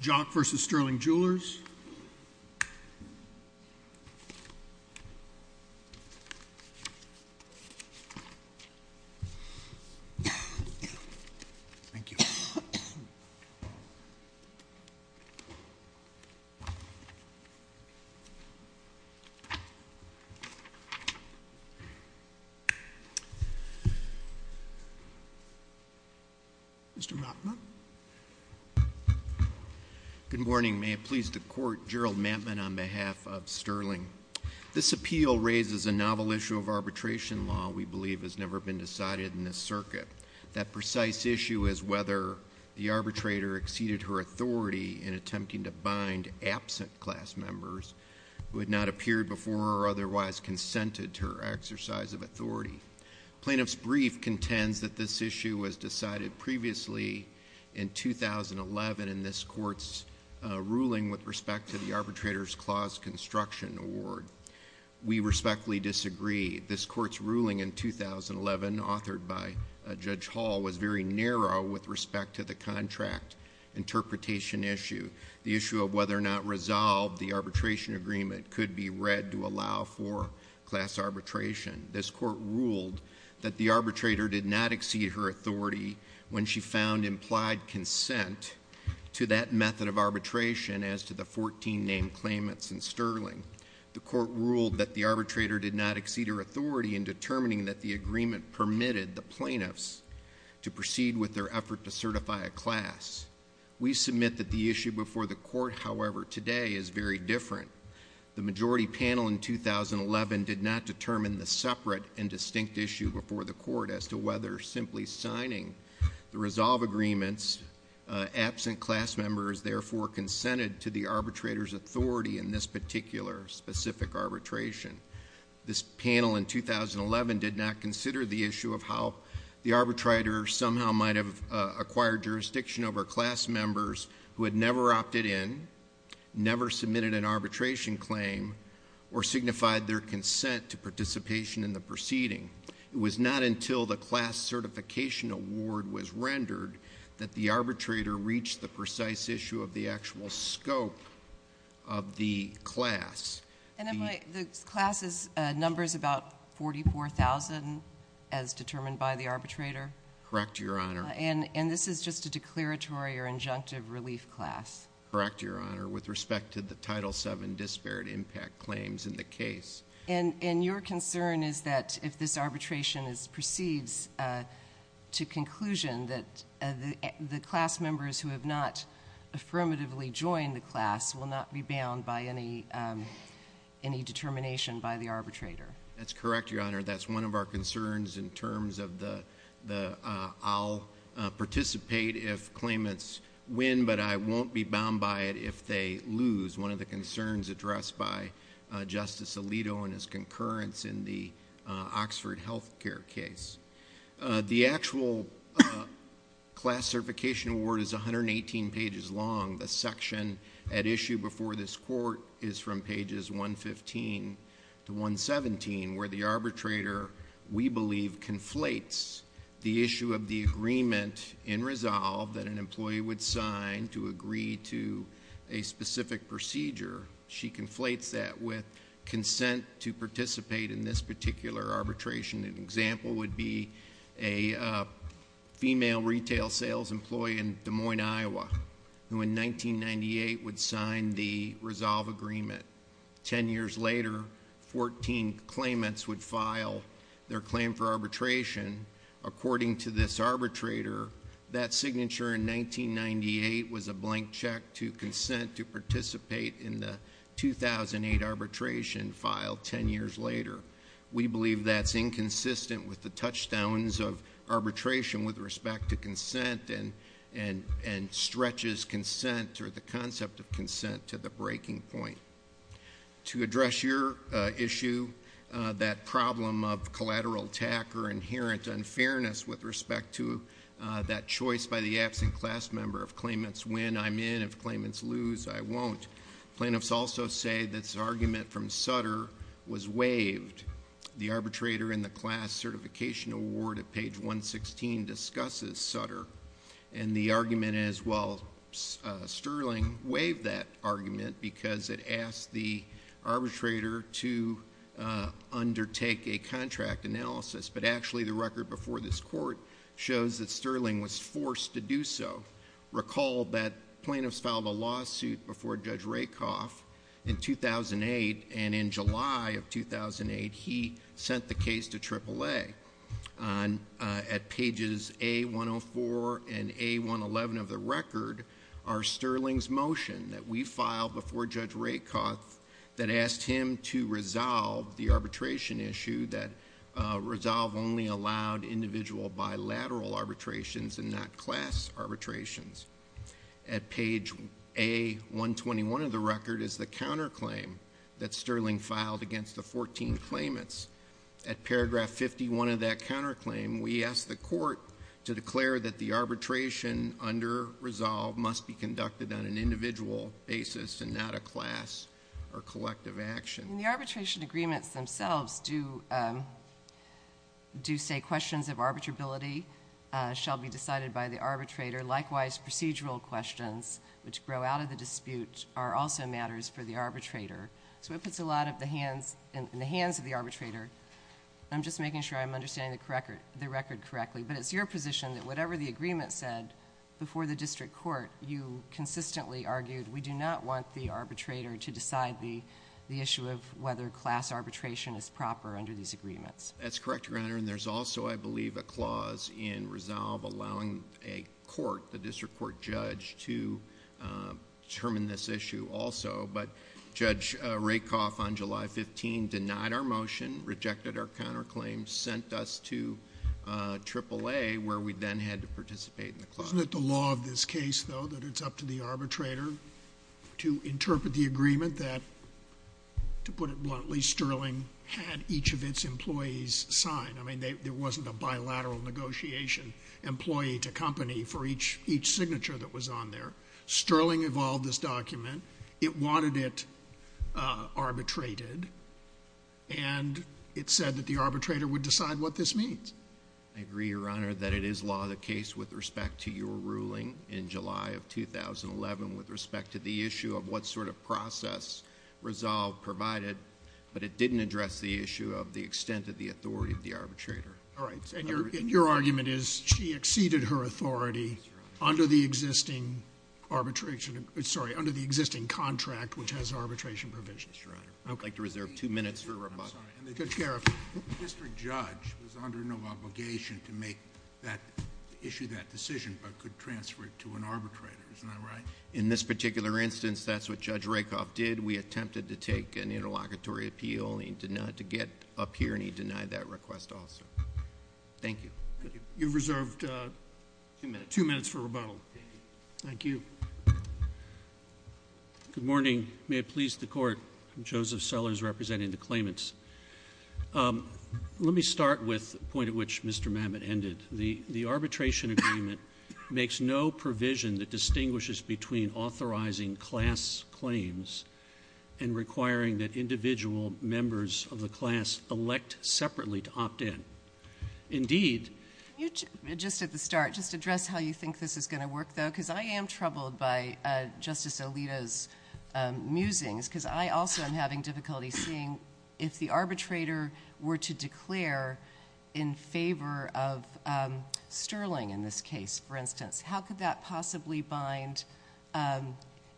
Jock v. Sterling Jewelers. Thank you. Mr. Mautner. Good morning. May it please the court, Gerald Mattman on behalf of Sterling. This appeal raises a novel issue of arbitration law we believe has never been decided in this circuit. That precise issue is whether the arbitrator exceeded her authority in attempting to bind absent class members who had not appeared before or otherwise consented to her exercise of authority. Plaintiff's brief contends that this issue was decided previously in 2011 in this court's ruling with respect to the arbitrator's clause construction award. We respectfully disagree. This court's ruling in 2011, authored by Judge Hall, was very narrow with respect to the contract interpretation issue, the issue of whether or not resolved the arbitration agreement could be read to allow for class arbitration. This court ruled that the arbitrator did not exceed her authority when she found implied consent to that method of arbitration as to the 14 named claimants in Sterling. The court ruled that the arbitrator did not exceed her authority in determining that the agreement permitted the plaintiffs to proceed with their effort to certify a class. We submit that the issue before the court, however, today is very different. The majority panel in 2011 did not determine the separate and distinct issue before the court as to whether or simply signing the resolve agreements absent class members therefore consented to the arbitrator's authority in this particular specific arbitration. This panel in 2011 did not consider the issue of how the arbitrator somehow might have acquired jurisdiction over class members who had never opted in, never submitted an arbitration claim, or signified their consent to participation in the proceeding. It was not until the class certification award was rendered that the arbitrator reached the precise issue of the actual scope of the class. And the class's number is about 44,000 as determined by the arbitrator? Correct, Your Honor. And this is just a declaratory or injunctive relief class? Correct, Your Honor, with respect to the Title VII disparate impact claims in the case. And your concern is that if this arbitration proceeds to conclusion that the class members who have not affirmatively joined the class will not be bound by any determination by the arbitrator? That's correct, Your Honor. That's one of our concerns in terms of the I'll participate if claimants win, but I won't be bound by it if they lose. That is one of the concerns addressed by Justice Alito and his concurrence in the Oxford Health Care case. The actual class certification award is 118 pages long. The section at issue before this court is from pages 115 to 117 where the arbitrator, we believe, conflates the issue of the agreement in resolve that an employee would sign to agree to a specific procedure. She conflates that with consent to participate in this particular arbitration. An example would be a female retail sales employee in Des Moines, Iowa, who in 1998 would sign the resolve agreement. Ten years later, 14 claimants would file their claim for arbitration. According to this arbitrator, that signature in 1998 was a blank check to consent to participate in the 2008 arbitration filed ten years later. We believe that's inconsistent with the touchdowns of arbitration with respect to consent and stretches consent or the concept of consent to the breaking point. To address your issue, that problem of collateral attack or inherent unfairness with respect to that choice by the absent class member. If claimants win, I'm in. If claimants lose, I won't. Plaintiffs also say this argument from Sutter was waived. The arbitrator in the class certification award at page 116 discusses Sutter. And the argument is, well, Sterling waived that argument because it asked the arbitrator to undertake a contract analysis but actually the record before this court shows that Sterling was forced to do so. Recall that plaintiffs filed a lawsuit before Judge Rakoff in 2008 and in July of 2008, he sent the case to AAA. At pages A104 and A111 of the record are Sterling's motion that we filed before Judge Rakoff that asked him to resolve the arbitration issue that resolve only allowed individual bilateral arbitrations and not class arbitrations. At page A121 of the record is the counterclaim that Sterling filed against the 14 claimants. At paragraph 51 of that counterclaim, we asked the court to declare that the arbitration under resolve must be conducted on an individual basis and not a class or collective action. The arbitration agreements themselves do say questions of arbitrability shall be decided by the arbitrator. Likewise, procedural questions which grow out of the dispute are also matters for the arbitrator. So it puts a lot in the hands of the arbitrator. I'm just making sure I'm understanding the record correctly, but it's your position that whatever the agreement said before the district court, you consistently argued we do not want the arbitrator to decide the issue of whether class arbitration is proper under these agreements. That's correct, Your Honor. And there's also, I believe, a clause in resolve allowing a court, the district court judge, to determine this issue also. But Judge Rakoff on July 15 denied our motion, rejected our counterclaim, sent us to AAA where we then had to participate in the clause. Wasn't it the law of this case, though, that it's up to the arbitrator to interpret the agreement that, to put it bluntly, Sterling had each of its employees sign? I mean, there wasn't a bilateral negotiation employee to company for each signature that was on there. Sterling evolved this document. It wanted it arbitrated. And it said that the arbitrator would decide what this means. I agree, Your Honor, that it is law of the case with respect to your ruling in July of 2011 with respect to the issue of what sort of process resolve provided. But it didn't address the issue of the extent of the authority of the arbitrator. All right. And your argument is she exceeded her authority under the existing arbitration. Sorry, under the existing contract, which has arbitration provisions. That's right. I'd like to reserve two minutes for rebuttal. I'm sorry. Judge Karoff. The district judge was under no obligation to issue that decision, but could transfer it to an arbitrator. Isn't that right? In this particular instance, that's what Judge Rakoff did. We attempted to take an interlocutory appeal. He did not get up here, and he denied that request also. Thank you. You've reserved two minutes for rebuttal. Thank you. Good morning. May it please the court. Joseph Sellers representing the claimants. Let me start with the point at which Mr. Mamet ended. The arbitration agreement makes no provision that distinguishes between authorizing class claims and requiring that individual members of the class elect separately to opt in. Indeed. Just at the start, just address how you think this is going to work, though, because I am troubled by Justice Alito's musings, because I also am having difficulty seeing if the arbitrator were to declare in favor of Sterling in this case, for instance. How could that possibly bind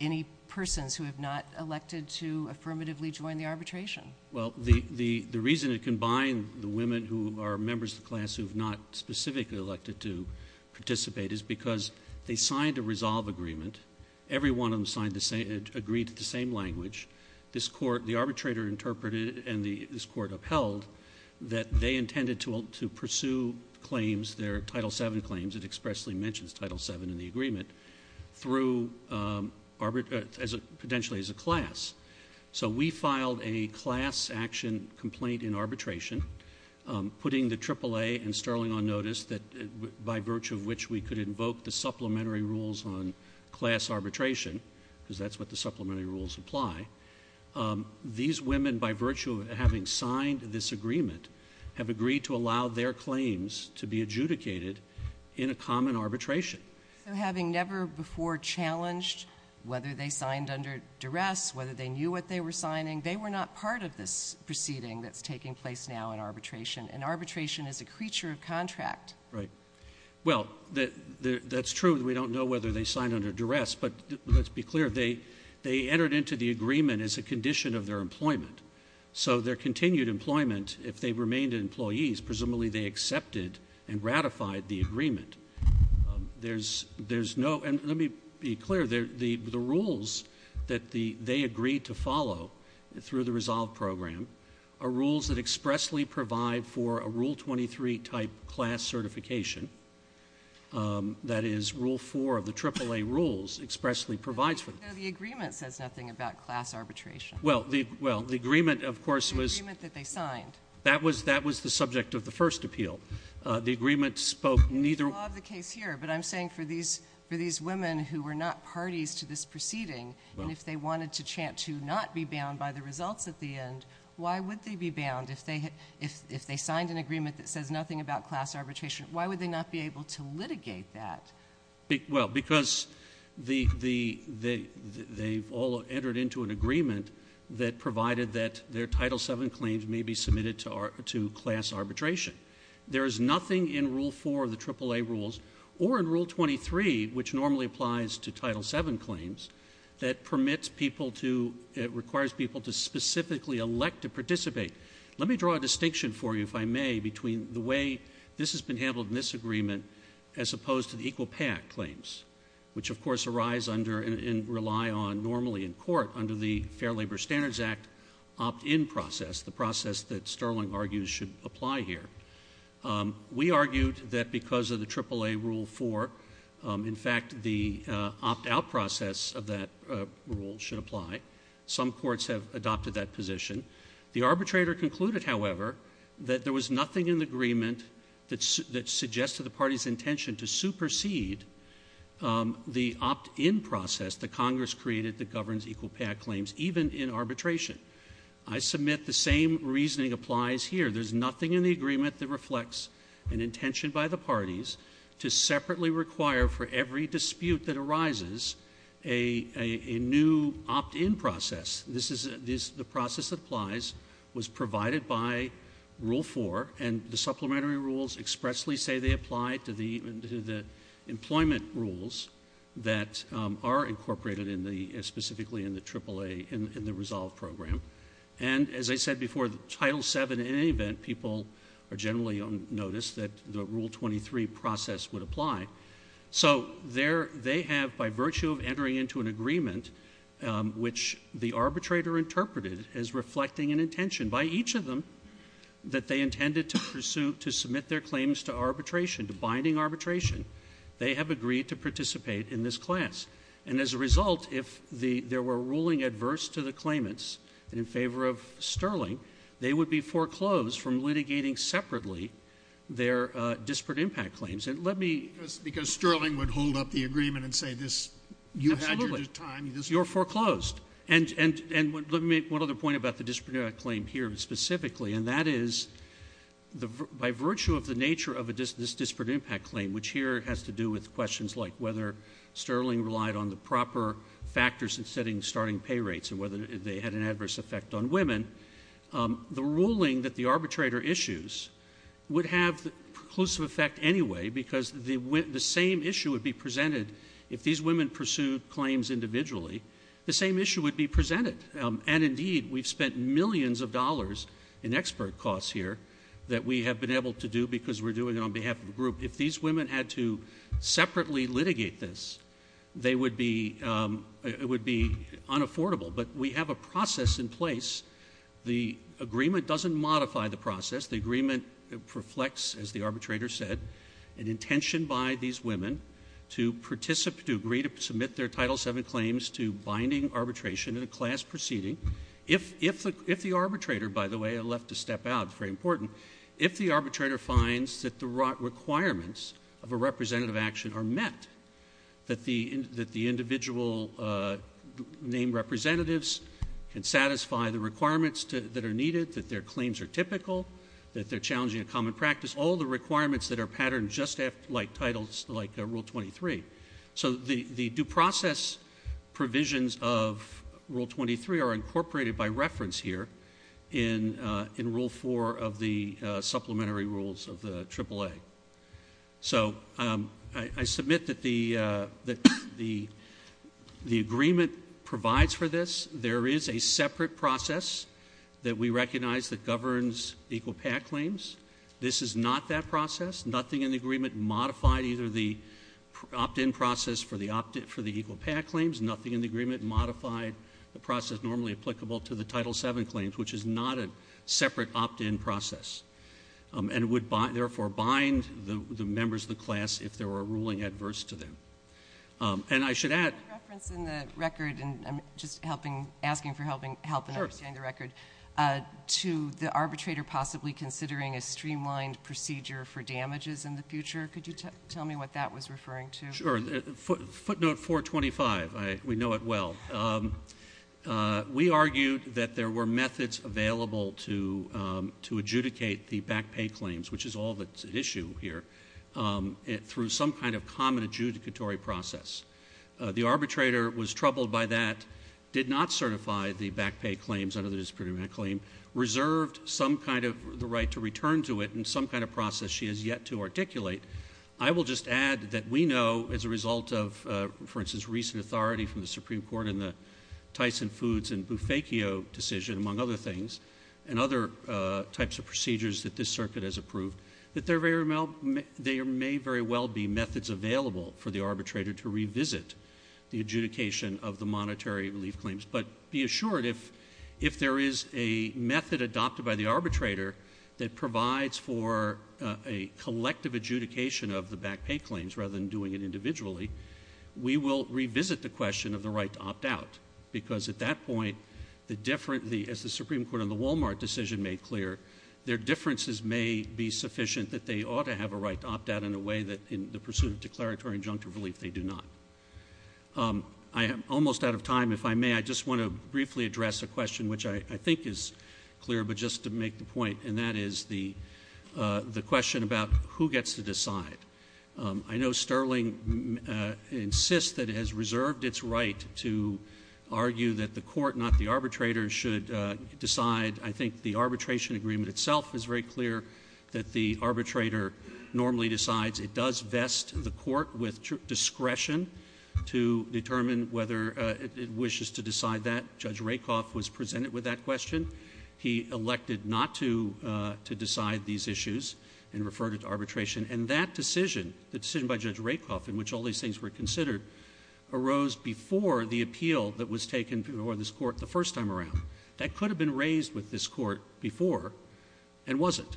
any persons who have not elected to affirmatively join the arbitration? Well, the reason it can bind the women who are members of the class who have not specifically elected to participate is because they signed a resolve agreement. Every one of them agreed to the same language. The arbitrator interpreted, and this court upheld, that they intended to pursue claims, their Title VII claims, it expressly mentions Title VII in the agreement, potentially as a class. So we filed a class action complaint in arbitration, putting the AAA and Sterling on notice, by virtue of which we could invoke the supplementary rules on class arbitration, because that's what the supplementary rules apply. These women, by virtue of having signed this agreement, have agreed to allow their claims to be adjudicated in a common arbitration. So having never before challenged whether they signed under duress, whether they knew what they were signing, they were not part of this proceeding that's taking place now in arbitration. And arbitration is a creature of contract. Right. Well, that's true that we don't know whether they signed under duress. But let's be clear, they entered into the agreement as a condition of their employment. So their continued employment, if they remained employees, presumably they accepted and ratified the agreement. There's no, and let me be clear, the rules that they agreed to follow through the resolve program are rules that expressly provide for a Rule 23 type class certification. That is, Rule 4 of the AAA rules expressly provides for that. No, the agreement says nothing about class arbitration. Well, the agreement, of course, was- The agreement that they signed. That was the subject of the first appeal. The agreement spoke neither- It's the law of the case here. But I'm saying for these women who were not parties to this proceeding, and if they wanted to chant to not be bound by the results at the end, why would they be bound if they signed an agreement that says nothing about class arbitration? Why would they not be able to litigate that? Well, because they've all entered into an agreement that provided that their Title VII claims may be submitted to class arbitration. There is nothing in Rule 4 of the AAA rules or in Rule 23, which normally applies to Title VII claims, that permits people to, it requires people to specifically elect to participate. Let me draw a distinction for you, if I may, between the way this has been handled in this agreement as opposed to the Equal Pay Act claims, which, of course, arise under and rely on normally in court under the Fair Labor Standards Act opt-in process, the process that Sterling argues should apply here. We argued that because of the AAA Rule 4, in fact, the opt-out process of that rule should apply. Some courts have adopted that position. The arbitrator concluded, however, that there was nothing in the agreement that suggested the party's intention to supersede the opt-in process that Congress created that governs Equal Pay Act claims, even in arbitration. I submit the same reasoning applies here. There's nothing in the agreement that reflects an intention by the parties to separately require, for every dispute that arises, a new opt-in process. This is the process that applies, was provided by Rule 4, and the supplementary rules expressly say they apply to the employment rules that are incorporated specifically in the AAA, in the Resolve program. And as I said before, Title VII, in any event, people are generally on notice that the Rule 23 process would apply. So they have, by virtue of entering into an agreement, which the arbitrator interpreted as reflecting an intention by each of them, that they intended to pursue, to submit their claims to arbitration, to binding arbitration, they have agreed to participate in this class. And as a result, if there were a ruling adverse to the claimants and in favor of Sterling, they would be foreclosed from litigating separately their disparate impact claims. And let me... Because Sterling would hold up the agreement and say, you had your time, you're foreclosed. And let me make one other point about the disparate impact claim here specifically, and that is, by virtue of the nature of this disparate impact claim, which here has to do with questions like whether Sterling relied on the proper factors in setting starting pay rates and whether they had an adverse effect on women, the ruling that the arbitrator issues would have the preclusive effect anyway because the same issue would be presented if these women pursued claims individually. The same issue would be presented. And indeed, we've spent millions of dollars in expert costs here that we have been able to do because we're doing it on behalf of the group. If these women had to separately litigate this, they would be... It would be unaffordable. But we have a process in place. The agreement doesn't modify the process. The agreement reflects, as the arbitrator said, an intention by these women to participate, to agree to submit their Title VII claims to binding arbitration in a class proceeding. If the arbitrator, by the way, I left a step out, it's very important, if the arbitrator finds that the requirements of a representative action are met, that the individual named representatives can satisfy the requirements that are needed, that their claims are typical, that they're challenging a common practice, all the requirements that are patterned just like titles, like Rule 23. So the due process provisions of Rule 23 are incorporated by reference here in Rule 4 of the supplementary rules of the AAA. So I submit that the agreement provides for this. There is a separate process that we recognize that governs equal PAC claims. This is not that process. Nothing in the agreement modified either the opt-in process for the equal PAC claims, nothing in the agreement modified the process normally applicable to the Title VII claims, which is not a separate opt-in process, and would, therefore, bind the members of the class if there were a ruling adverse to them. And I should add... I have a reference in the record, and I'm just asking for help in understanding the record, to the arbitrator possibly considering a streamlined procedure for damages in the future. Could you tell me what that was referring to? Sure. Footnote 425. We know it well. We argued that there were methods available to adjudicate the back pay claims, which is all that's at issue here, through some kind of common adjudicatory process. The arbitrator was troubled by that, did not certify the back pay claims under the Disciplinary Act claim, reserved some kind of the right to return to it and some kind of process she has yet to articulate. I will just add that we know, as a result of, for instance, recent authority from the Supreme Court in the Tyson Foods and Bufakio decision, among other things, and other types of procedures that this circuit has approved, that there may very well be methods available for the arbitrator to revisit the adjudication of the monetary relief claims. But be assured, if there is a method adopted by the arbitrator that provides for a collective adjudication of the back pay claims, rather than doing it individually, we will revisit the question of the right to opt out. Because at that point, as the Supreme Court in the Walmart decision made clear, their differences may be sufficient that they ought to have a right to opt out in a way that, in the pursuit of declaratory injunctive relief, they do not. I am almost out of time, if I may. I just want to briefly address a question which I think is clear, but just to make the point, and that is the question about who gets to decide. I know Sterling insists that it has reserved its right to argue that the court, not the arbitrator, should decide. I think the arbitration agreement itself is very clear that the arbitrator normally decides. It does vest the court with discretion to determine whether it wishes to decide that. Judge Rakoff was presented with that question. He elected not to decide these issues and referred it to arbitration. And that decision, the decision by Judge Rakoff, in which all these things were considered, arose before the appeal that was taken before this court the first time around. That could have been raised with this court before, and wasn't.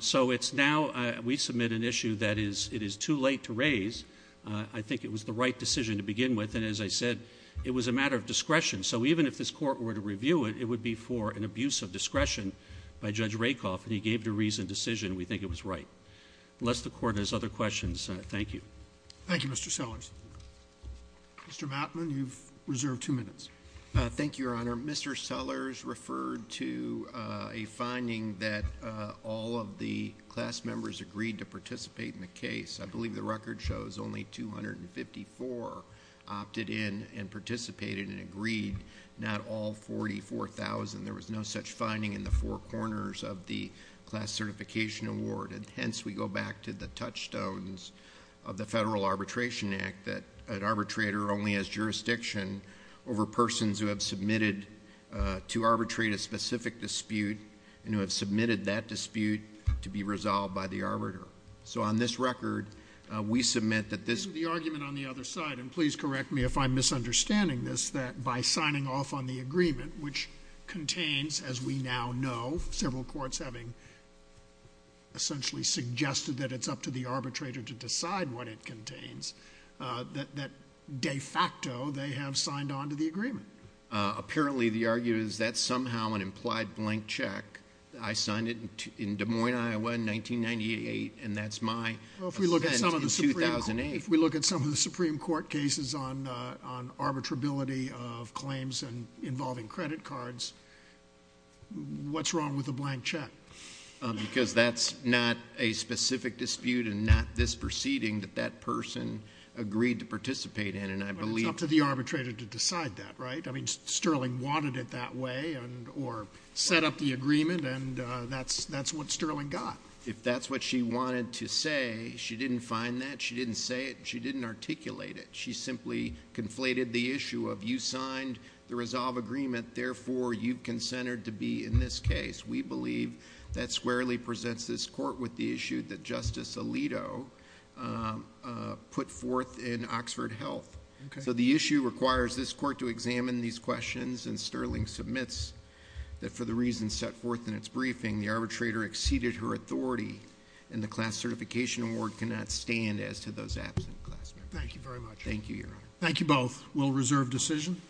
So it's now, we submit an issue that it is too late to raise. I think it was the right decision to begin with. And as I said, it was a matter of discretion. So even if this court were to review it, it would be for an abuse of discretion by Judge Rakoff. And he gave the reasoned decision. We think it was right. Unless the court has other questions, thank you. Thank you, Mr. Sellers. Mr. Mattman, you've reserved two minutes. Thank you, Your Honor. Mr. Sellers referred to a finding that all of the class members agreed to participate in the case. I believe the record shows only 254 opted in and participated and agreed, not all 44,000. There was no such finding in the four corners of the class certification award. And hence, we go back to the touchstones of the Federal Arbitration Act, that an arbitrator only has jurisdiction over persons who have submitted to arbitrate a specific dispute, and who have submitted that dispute to be resolved by the arbiter. So on this record, we submit that this- The argument on the other side, and please correct me if I'm misunderstanding this, that by signing off on the agreement, which contains, as we now know, several courts having essentially suggested that it's up to the arbitrator to decide what it contains, that de facto, they have signed on to the agreement. Apparently, the argument is that's somehow an implied blank check. I signed it in Des Moines, Iowa, in 1998, and that's my- Well, if we look at some of the- In 2008. If we look at some of the Supreme Court cases on arbitrability of claims and involving credit cards, what's wrong with a blank check? Because that's not a specific dispute and not this proceeding that that person agreed to participate in, and I believe- But it's up to the arbitrator to decide that, right? I mean, Sterling wanted it that way, or set up the agreement, and that's what Sterling got. If that's what she wanted to say, she didn't find that, she didn't say it, she didn't articulate it. She simply conflated the issue of, you signed the resolve agreement, therefore, you've consented to be in this case. We believe that squarely presents this court with the issue that Justice Alito put forth in Oxford Health. So the issue requires this court to examine these questions, and Sterling submits that, for the reasons set forth in its briefing, the arbitrator exceeded her authority, and the class certification award cannot stand as to those absent class members. Thank you very much. Thank you, Your Honor. Thank you both. We'll reserve decision.